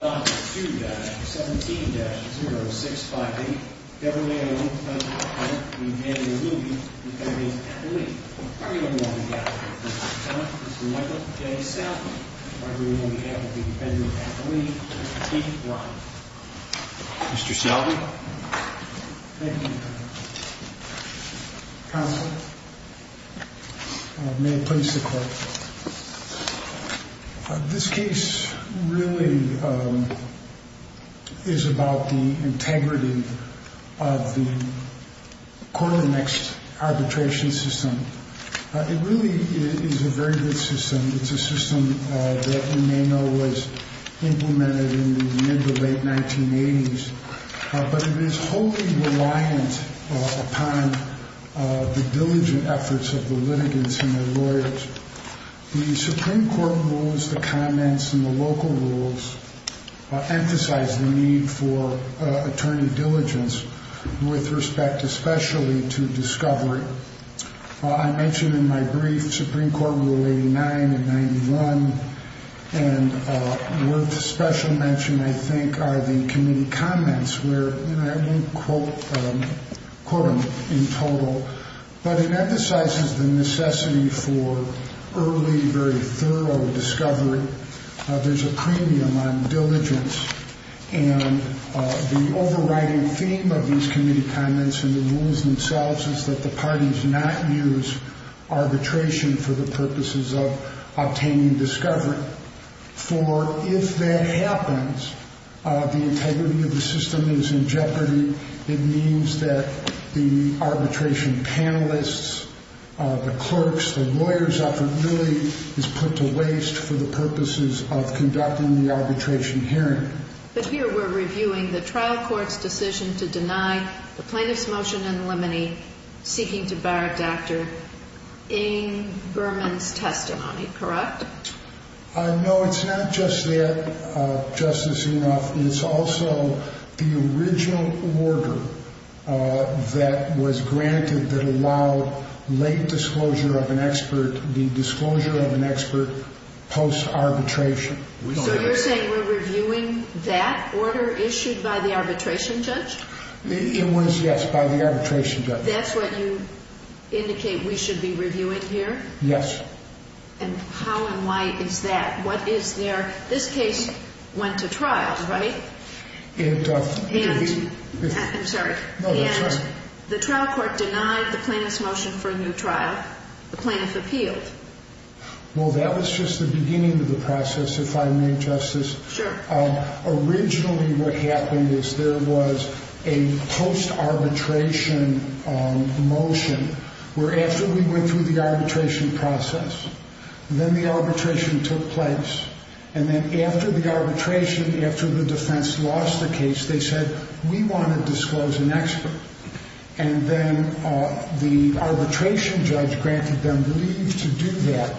Defendant's name is Michael J. Selby, and we are here with the defendant of Appalachia, Keith Bryant. Mr. Selby. Thank you, Your Honor. This case really is about the integrity of the corollary next arbitration system. It really is a very good system. It's a system that we may know was implemented in the mid to late 1980s. But it is wholly reliant upon the diligent efforts of the litigants and their lawyers. The Supreme Court rules, the comments, and the local rules emphasize the need for attorney diligence with respect especially to discovery. I mentioned in my brief, Supreme Court Rule 89 and 91, and worth special mention, I think, are the committee comments. I won't quote them in total, but it emphasizes the necessity for early, very thorough discovery. There's a premium on diligence. And the overriding theme of these committee comments and the rules themselves is that the parties not use arbitration for the purposes of obtaining discovery. For if that happens, the integrity of the system is in jeopardy. It means that the arbitration panelists, the clerks, the lawyers, really is put to waste for the purposes of conducting the arbitration hearing. But here we're reviewing the trial court's decision to deny the plaintiff's motion in limine seeking to bar a doctor in Berman's testimony, correct? No, it's not just that, Justice Inhofe. It's also the original order that was granted that allowed late disclosure of an expert, the disclosure of an expert post-arbitration. So you're saying we're reviewing that order issued by the arbitration judge? It was, yes, by the arbitration judge. That's what you indicate we should be reviewing here? Yes. And how and why is that? What is there? This case went to trial, right? It did. I'm sorry. No, that's right. And the trial court denied the plaintiff's motion for a new trial. The plaintiff appealed. Well, that was just the beginning of the process, if I may, Justice. Sure. Originally what happened is there was a post-arbitration motion where after we went through the arbitration process, then the arbitration took place. And then after the arbitration, after the defense lost the case, they said, we want to disclose an expert. And then the arbitration judge granted them leave to do that.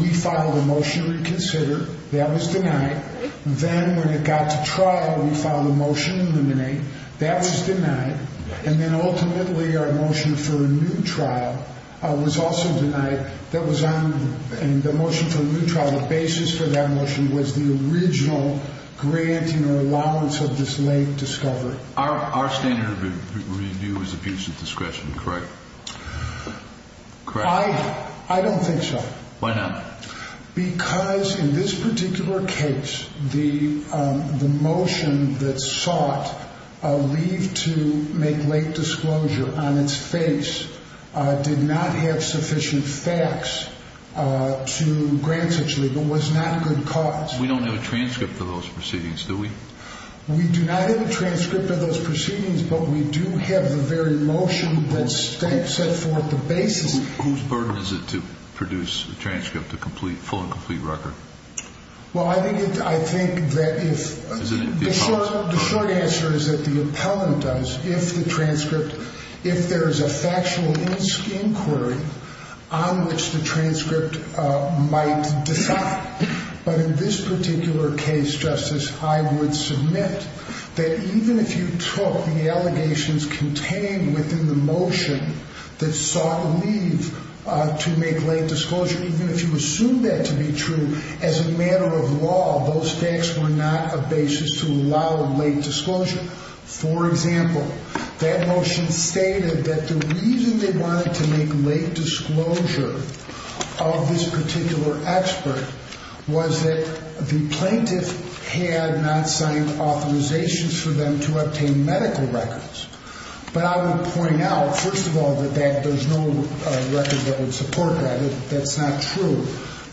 We filed a motion to reconsider. That was denied. Then when it got to trial, we filed a motion to eliminate. That was denied. And then ultimately our motion for a new trial was also denied. That was on the motion for a new trial. The basis for that motion was the original granting or allowance of this late discovery. Our standard review is abuse of discretion, correct? I don't think so. Why not? Because in this particular case, the motion that sought leave to make late disclosure on its face did not have sufficient facts to grant such leave. It was not a good cause. We don't have a transcript of those proceedings, do we? We do not have a transcript of those proceedings, but we do have the very motion that set forth the basis. Whose burden is it to produce a transcript, a complete, full and complete record? Well, I think that if the short answer is that the appellant does, if the transcript, if there is a factual inquiry on which the transcript might defy. But in this particular case, Justice, I would submit that even if you took the allegations contained within the motion that sought leave to make late disclosure, even if you assume that to be true, as a matter of law, those facts were not a basis to allow late disclosure. For example, that motion stated that the reason they wanted to make late disclosure of this particular expert was that the plaintiff had not signed authorizations for them to obtain medical records. But I would point out, first of all, that there's no record that would support that. That's not true.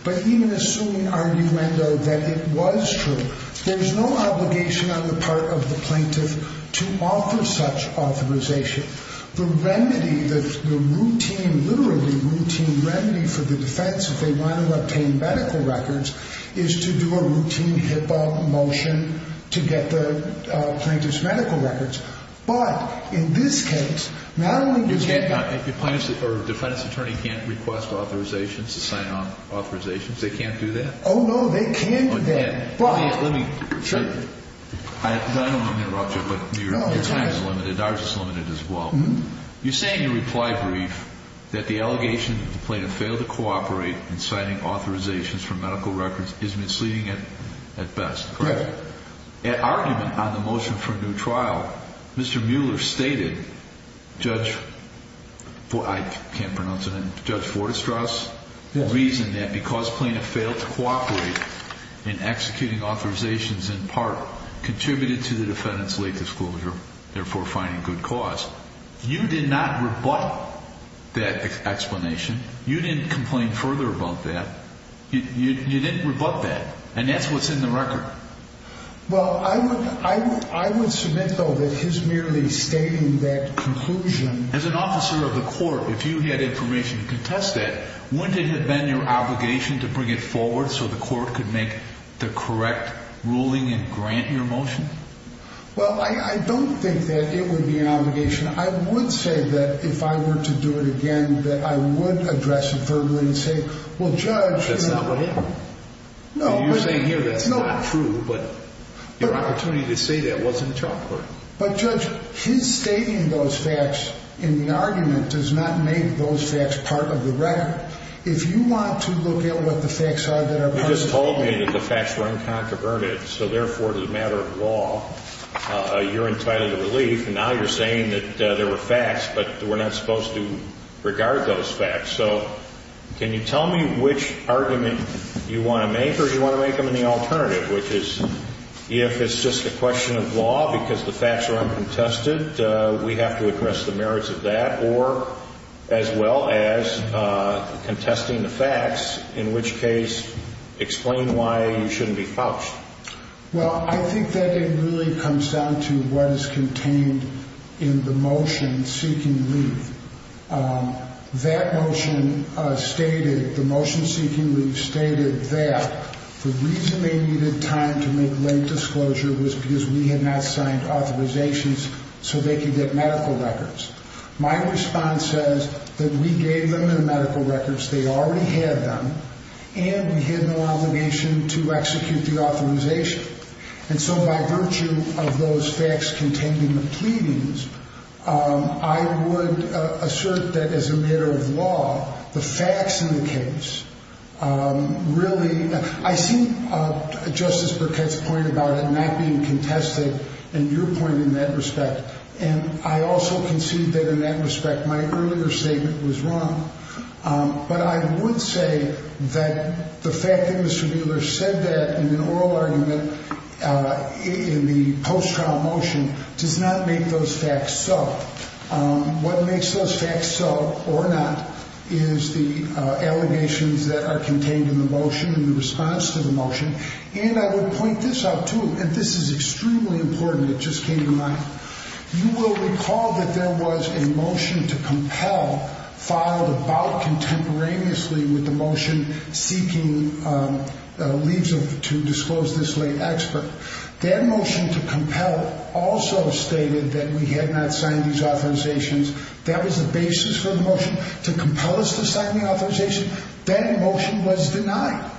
But even assuming arguendo that it was true, there's no obligation on the part of the plaintiff to offer such authorization. The remedy, the routine, literally routine remedy for the defense if they want to obtain medical records is to do a routine HIPAA motion to get the plaintiff's medical records. But in this case, not only can't the plaintiff or defense attorney can't request authorizations to sign off authorizations, they can't do that? Oh, no, they can't do that. Let me, let me. Sure. I don't want to interrupt you, but your time is limited. Ours is limited as well. You say in your reply brief that the allegation that the plaintiff failed to cooperate in signing authorizations for medical records is misleading at best. Correct. At argument on the motion for a new trial, Mr. Mueller stated, Judge, I can't pronounce it, Judge Fortestrass? Yes. Reasoned that because plaintiff failed to cooperate in executing authorizations in part contributed to the defendant's late disclosure, therefore finding good cause. You did not rebut that explanation. You didn't complain further about that. You didn't rebut that. And that's what's in the record. Well, I would, I would, I would submit, though, that his merely stating that conclusion. As an officer of the court, if you had information to contest that, wouldn't it have been your obligation to bring it forward so the court could make the correct ruling and grant your motion? Well, I don't think that it would be an obligation. I would say that if I were to do it again, that I would address it verbally and say, well, Judge. That's not what happened. No. You're saying here that's not true, but your opportunity to say that wasn't a chalkboard. But, Judge, his stating those facts in the argument does not make those facts part of the record. If you want to look at what the facts are that are part of the record. You just told me that the facts were unconconverted. So, therefore, as a matter of law, you're entitled to relief. And now you're saying that there were facts, but we're not supposed to regard those facts. So, can you tell me which argument you want to make or do you want to make them in the alternative? Which is, if it's just a question of law because the facts are uncontested, we have to address the merits of that or as well as contesting the facts. In which case, explain why you shouldn't be fouched. Well, I think that it really comes down to what is contained in the motion seeking relief. That motion stated, the motion seeking relief stated that the reason they needed time to make late disclosure was because we had not signed authorizations so they could get medical records. My response says that we gave them the medical records, they already had them, and we had no obligation to execute the authorization. And so, by virtue of those facts containing the pleadings, I would assert that as a matter of law, the facts in the case really – I see Justice Burkett's point about it not being contested and your point in that respect. And I also concede that in that respect, my earlier statement was wrong. But I would say that the fact that Mr. Wheeler said that in an oral argument in the post-trial motion does not make those facts so. What makes those facts so, or not, is the allegations that are contained in the motion and the response to the motion. And I would point this out too, and this is extremely important, it just came to mind. You will recall that there was a motion to compel filed about contemporaneously with the motion seeking leaves to disclose this late expert. That motion to compel also stated that we had not signed these authorizations. That was the basis for the motion to compel us to sign the authorization. That motion was denied.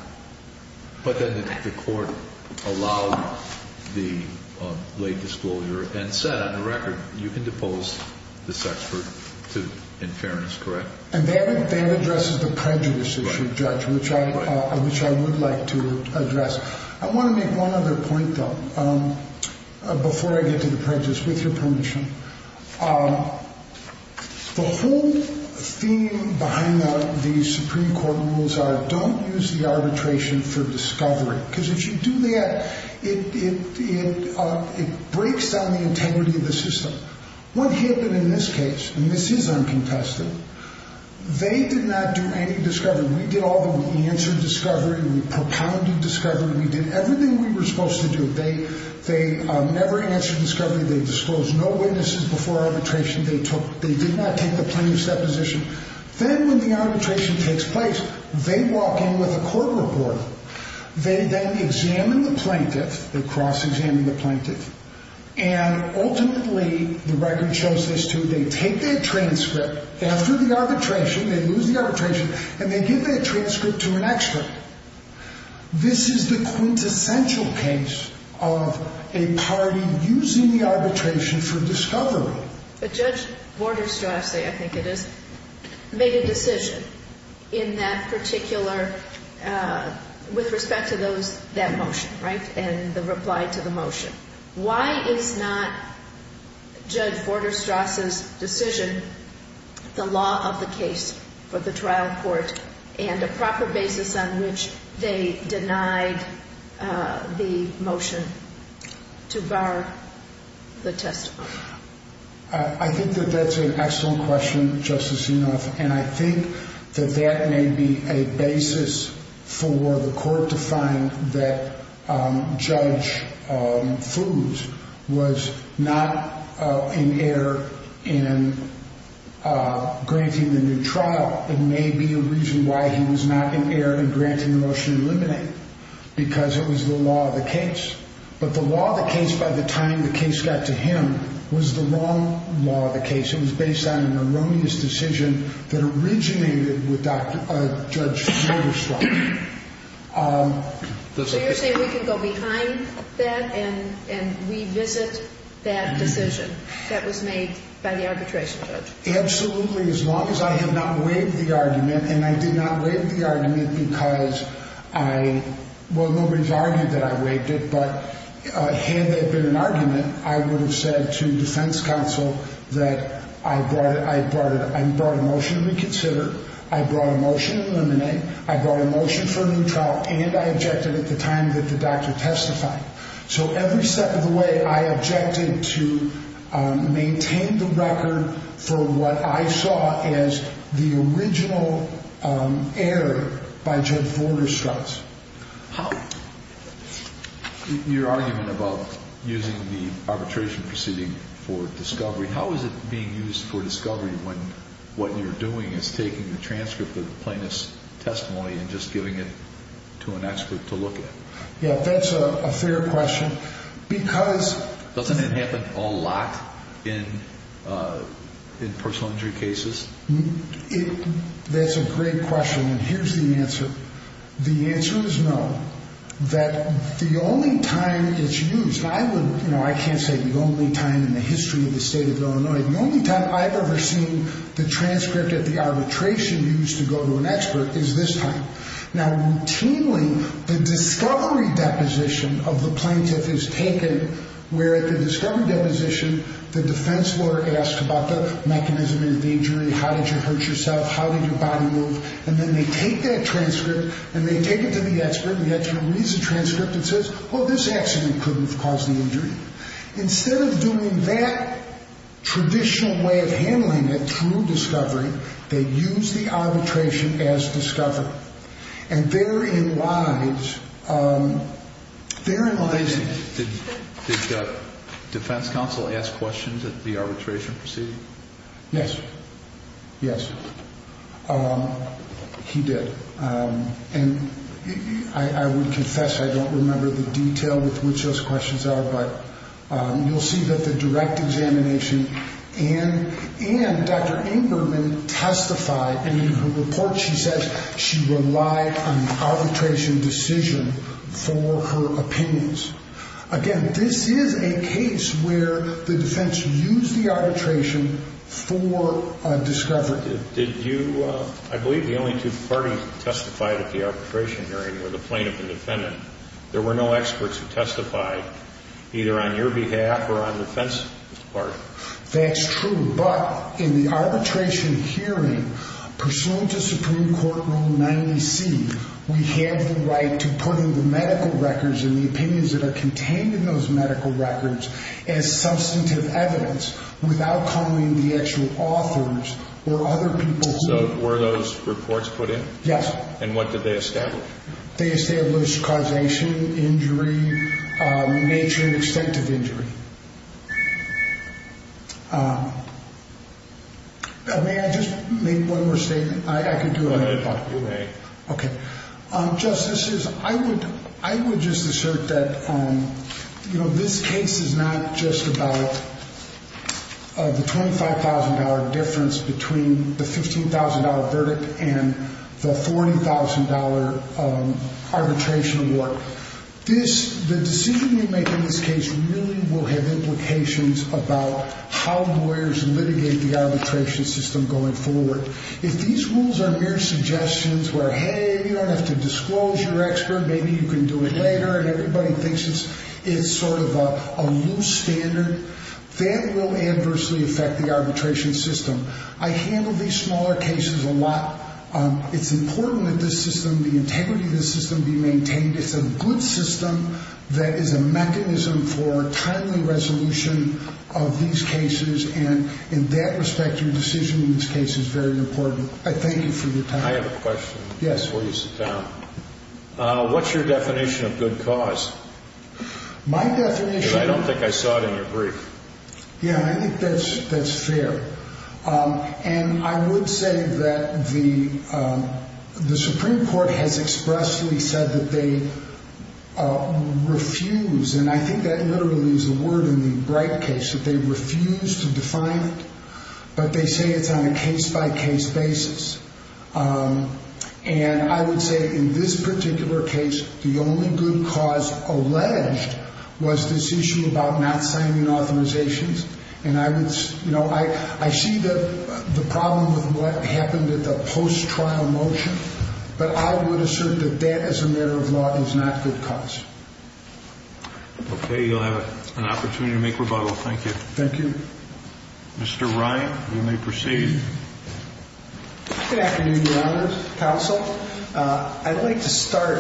But then the court allowed the late disclosure and said, on the record, you can depose this expert in fairness, correct? And that addresses the prejudice issue, Judge, which I would like to address. I want to make one other point, though, before I get to the prejudice, with your permission. The whole theme behind the Supreme Court rules are don't use the arbitration for discovery. Because if you do that, it breaks down the integrity of the system. What happened in this case, and this is uncontested, they did not do any discovery. We did all the, we answered discovery, we propounded discovery, we did everything we were supposed to do. They never answered discovery. They disclosed no witnesses before arbitration. They did not take the plaintiff's deposition. Then when the arbitration takes place, they walk in with a court report. They then examine the plaintiff. They cross-examine the plaintiff. And ultimately, the record shows this, too. They take their transcript after the arbitration, they lose the arbitration, and they give their transcript to an expert. This is the quintessential case of a party using the arbitration for discovery. But Judge Vorderstrasse, I think it is, made a decision in that particular, with respect to those, that motion, right, and the reply to the motion. Why is not Judge Vorderstrasse's decision the law of the case for the trial court and a proper basis on which they denied the motion to bar the testimony? I think that that's an excellent question, Justice Inhofe. And I think that that may be a basis for the court to find that Judge Foos was not an heir in granting the new trial. It may be a reason why he was not an heir in granting the motion to eliminate, because it was the law of the case. But the law of the case by the time the case got to him was the wrong law of the case. It was based on an erroneous decision that originated with Judge Vorderstrasse. So you're saying we can go behind that and revisit that decision that was made by the arbitration judge? Absolutely, as long as I have not waived the argument. And I did not waive the argument because I, well, nobody's argued that I waived it, but had there been an argument, I would have said to defense counsel that I brought a motion to reconsider. I brought a motion to eliminate. I brought a motion for a new trial. And I objected at the time that the doctor testified. So every step of the way, I objected to maintain the record for what I saw as the original heir by Judge Vorderstrasse. Your argument about using the arbitration proceeding for discovery, how is it being used for discovery when what you're doing is taking the transcript of the plaintiff's testimony and just giving it to an expert to look at? Yeah, that's a fair question. Doesn't it happen a lot in personal injury cases? That's a great question, and here's the answer. The answer is no. That the only time it's used, I can't say the only time in the history of the state of Illinois, the only time I've ever seen the transcript of the arbitration used to go to an expert is this time. Now, routinely, the discovery deposition of the plaintiff is taken where the discovery deposition, the defense lawyer asks about the mechanism of the injury. How did you hurt yourself? How did your body move? And then they take that transcript, and they take it to the expert, and the expert reads the transcript and says, well, this accident couldn't have caused the injury. Instead of doing that traditional way of handling a true discovery, they use the arbitration as discovery. And they're in line. Did the defense counsel ask questions at the arbitration proceeding? Yes. Yes. He did. And I would confess I don't remember the detail with which those questions are, but you'll see that the direct examination and Dr. Ingberman testified, and in her report she says she relied on the arbitration decision for her opinions. Again, this is a case where the defense used the arbitration for discovery. I believe the only two parties that testified at the arbitration hearing were the plaintiff and defendant. There were no experts who testified, either on your behalf or on the defense party. That's true. But in the arbitration hearing pursuant to Supreme Court Rule 90C, we have the right to put in the medical records and the opinions that are contained in those medical records as substantive evidence without calling the actual authors or other people. So were those reports put in? Yes. And what did they establish? They established causation, injury, nature and extent of injury. May I just make one more statement? I could do it. Go ahead. Okay. Justice, I would just assert that this case is not just about the $25,000 difference between the $15,000 verdict and the $40,000 arbitration award. The decision you make in this case really will have implications about how lawyers litigate the arbitration system going forward. If these rules are mere suggestions where, hey, you don't have to disclose your expert, maybe you can do it later, and everybody thinks it's sort of a loose standard, that will adversely affect the arbitration system. I handle these smaller cases a lot. It's important that this system, the integrity of this system, be maintained. It's a good system that is a mechanism for timely resolution of these cases, and in that respect, your decision in this case is very important. I thank you for your time. I have a question before you sit down. Yes. What's your definition of good cause? My definition... Because I don't think I saw it in your brief. Yeah, I think that's fair. I would say that the Supreme Court has expressly said that they refuse, and I think that literally is a word in the Bright case, that they refuse to define it, but they say it's on a case-by-case basis. I would say in this particular case, the only good cause alleged was this issue about not signing authorizations. And I would, you know, I see the problem with what happened at the post-trial motion, but I would assert that that, as a matter of law, is not good cause. Okay. You'll have an opportunity to make rebuttal. Thank you. Thank you. Mr. Ryan, you may proceed. Good afternoon, Your Honors, Counsel. I'd like to start.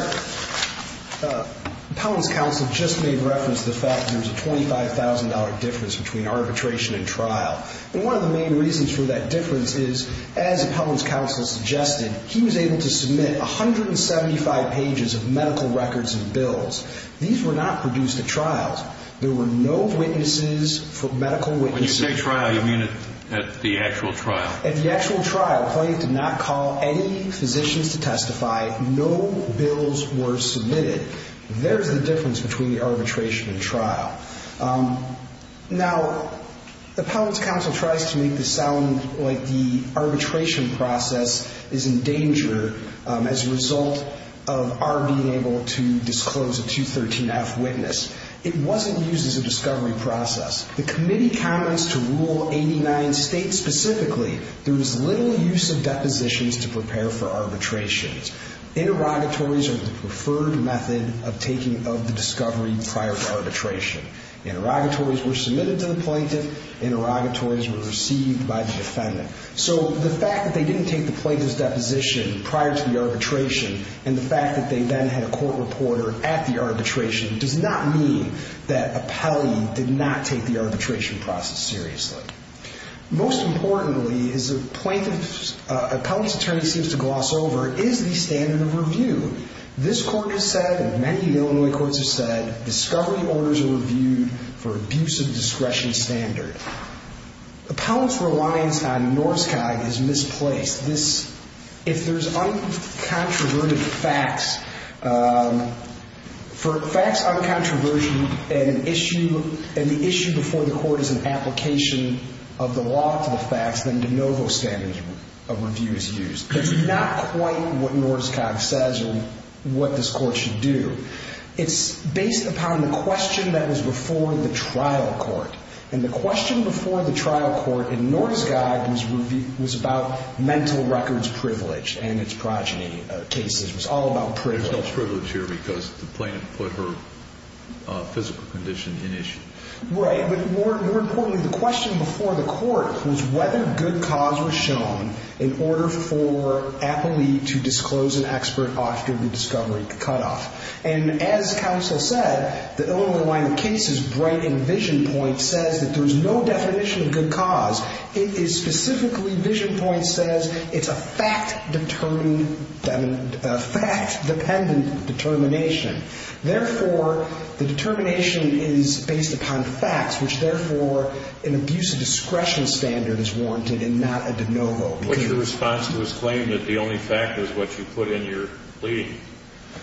Appellant's counsel just made reference to the fact that there's a $25,000 difference between arbitration and trial. And one of the main reasons for that difference is, as Appellant's counsel suggested, he was able to submit 175 pages of medical records and bills. These were not produced at trials. There were no witnesses for medical witnesses. When you say trial, you mean at the actual trial? At the actual trial, Appellant did not call any physicians to testify. No bills were submitted. There's the difference between arbitration and trial. Now, Appellant's counsel tries to make this sound like the arbitration process is in danger as a result of our being able to disclose a 213F witness. It wasn't used as a discovery process. The committee comments to Rule 89 states specifically there was little use of depositions to prepare for arbitrations. Interrogatories are the preferred method of taking of the discovery prior to arbitration. Interrogatories were submitted to the plaintiff. Interrogatories were received by the defendant. So the fact that they didn't take the plaintiff's deposition prior to the arbitration and the fact that they then had a court reporter at the arbitration does not mean that Appellee did not take the arbitration process seriously. Most importantly, as Appellant's attorney seems to gloss over, is the standard of review. This court has said, and many Illinois courts have said, discovery orders are reviewed for abuse of discretion standard. Appellant's reliance on Norskog is misplaced. If there's uncontroverted facts, for facts uncontroversial and the issue before the court is an application of the law to the facts, then de novo standard of review is used. It's not quite what Norskog says or what this court should do. It's based upon the question that was before the trial court. And the question before the trial court in Norskog was about mental records privilege and its progeny cases. It was all about privilege. There's no privilege here because the plaintiff put her physical condition in issue. Right. But more importantly, the question before the court was whether good cause was shown in order for Appellee to disclose an expert after the discovery cutoff. And as counsel said, the Illinois line of cases, bright and vision point, says that there's no definition of good cause. It is specifically, vision point says, it's a fact-determining, I mean, a fact-dependent determination. Therefore, the determination is based upon facts, which, therefore, an abuse of discretion standard is warranted and not a de novo. What's your response to his claim that the only fact is what you put in your plea?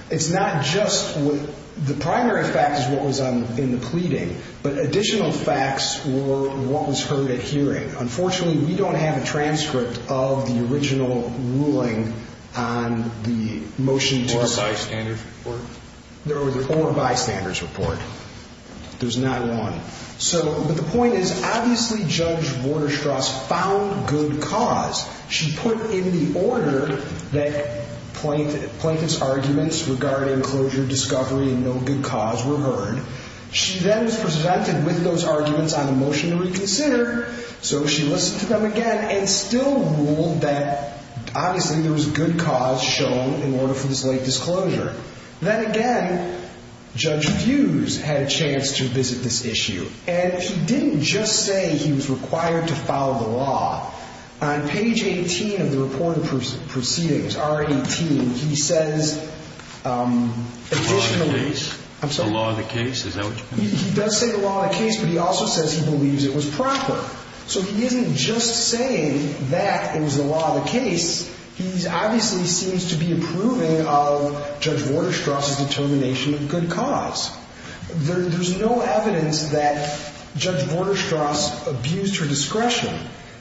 It's not just the primary fact is what was in the pleading, but additional facts were what was heard at hearing. Unfortunately, we don't have a transcript of the original ruling on the motion to decide. Or bystanders report? There was a four bystanders report. There's not one. So, but the point is, obviously, Judge Vorderstras found good cause. She put in the order that plaintiff's arguments regarding closure, discovery, and no good cause were heard. She then was presented with those arguments on the motion to reconsider. So she listened to them again and still ruled that, obviously, there was good cause shown in order for this late disclosure. Then again, Judge Fuse had a chance to visit this issue. And he didn't just say he was required to follow the law. On page 18 of the reporting proceedings, R18, he says additionally. The law of the case? I'm sorry? The law of the case? Is that what you mean? He does say the law of the case, but he also says he believes it was proper. So he isn't just saying that it was the law of the case. He obviously seems to be approving of Judge Vorderstras's determination of good cause. There's no evidence that Judge Vorderstras abused her discretion.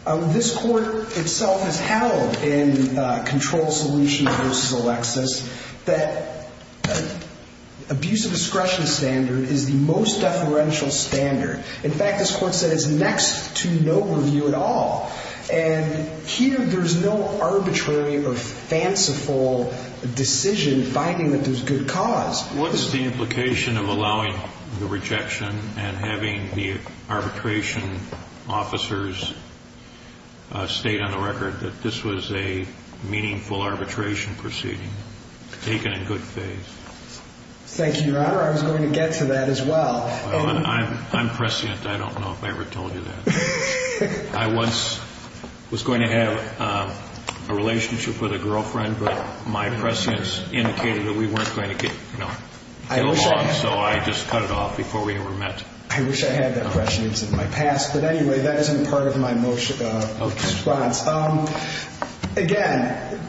This Court itself has held in Control Solution v. Alexis that abuse of discretion standard is the most deferential standard. In fact, this Court said it's next to no review at all. And here there's no arbitrary or fanciful decision finding that there's good cause. What's the implication of allowing the rejection and having the arbitration officers state on the record that this was a meaningful arbitration proceeding, taken in good faith? Thank you, Your Honor. I was going to get to that as well. I'm prescient. I don't know if I ever told you that. I once was going to have a relationship with a girlfriend, but my prescience indicated that we weren't going to get along. So I just cut it off before we ever met. I wish I had that prescience in my past. But anyway, that isn't part of my response. Again,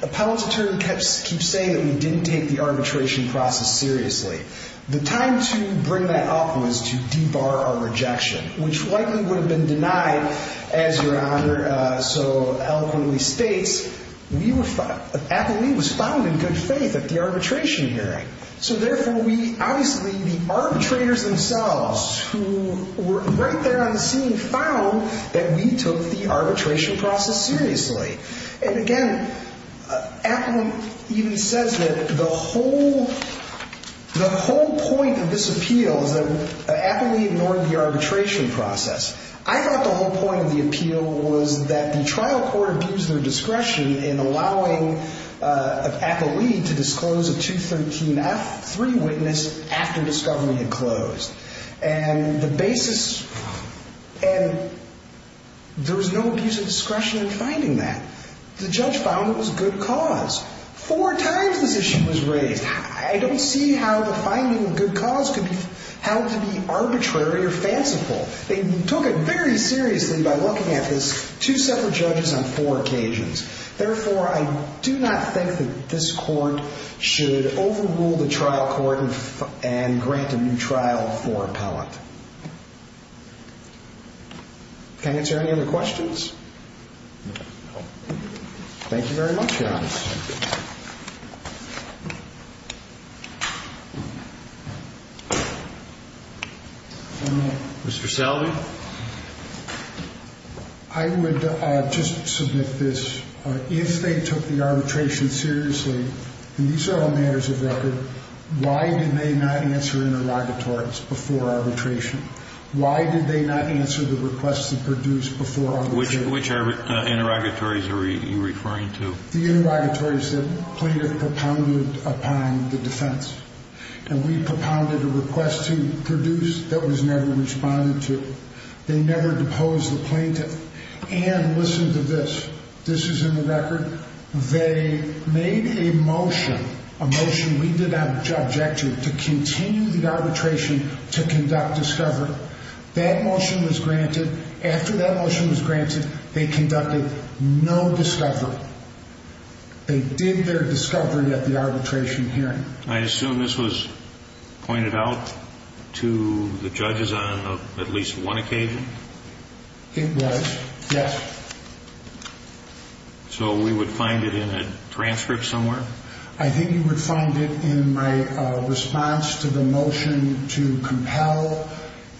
the appellate attorney keeps saying that we didn't take the arbitration process seriously. The time to bring that up was to debar our rejection, which likely would have been denied, as Your Honor so eloquently states. Appellee was found in good faith at the arbitration hearing. So therefore, obviously, the arbitrators themselves who were right there on the scene found that we took the arbitration process seriously. And again, Appellant even says that the whole point of this appeal is that Appellee ignored the arbitration process. I thought the whole point of the appeal was that the trial court abused their discretion in allowing Appellee to disclose a 213F, three witness, after discovery had closed. And there was no abuse of discretion in finding that. The judge found it was good cause. Four times this issue was raised. I don't see how the finding of good cause could be held to be arbitrary or fanciful. They took it very seriously by looking at this two separate judges on four occasions. Therefore, I do not think that this court should overrule the trial court and grant a new trial for Appellant. Can I answer any other questions? Mr. Salvi. I would just submit this. If they took the arbitration seriously, and these are all matters of record, why did they not answer interrogatories before arbitration? Why did they not answer the requests that were produced before arbitration? Which interrogatories are you referring to? The interrogatories that plaintiff propounded upon the defense. And we propounded a request to produce that was never responded to. They never deposed the plaintiff. And listen to this. This is in the record. They made a motion, a motion we did not object to, to continue the arbitration to conduct discovery. That motion was granted. After that motion was granted, they conducted no discovery. They did their discovery at the arbitration hearing. I assume this was pointed out to the judges on at least one occasion? It was, yes. So we would find it in a transcript somewhere? I think you would find it in my response to the motion to compel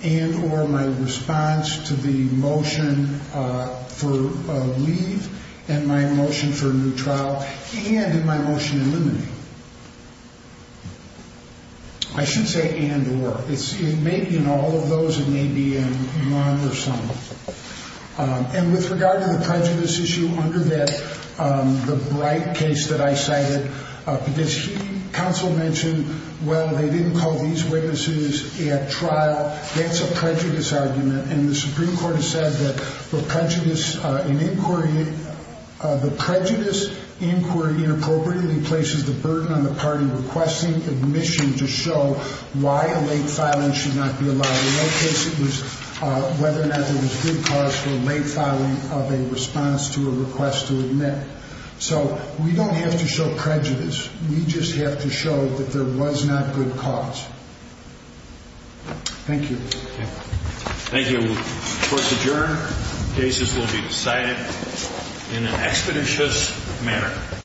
and or my response to the motion for leave and my motion for a new trial and in my motion eliminating. I should say and or. It may be in all of those. It may be in one or some. And with regard to the prejudice issue under that, the bright case that I cited, because counsel mentioned, well, they didn't call these witnesses at trial. That's a prejudice argument. And the Supreme Court has said that the prejudice in inquiry, the prejudice inquiry inappropriately places the burden on the party requesting admission to show why a late filing should not be allowed. In our case, it was whether or not there was good cause for a late filing of a response to a request to admit. So we don't have to show prejudice. We just have to show that there was not good cause. Thank you. Thank you. Court's adjourned. Cases will be decided in an expeditious manner.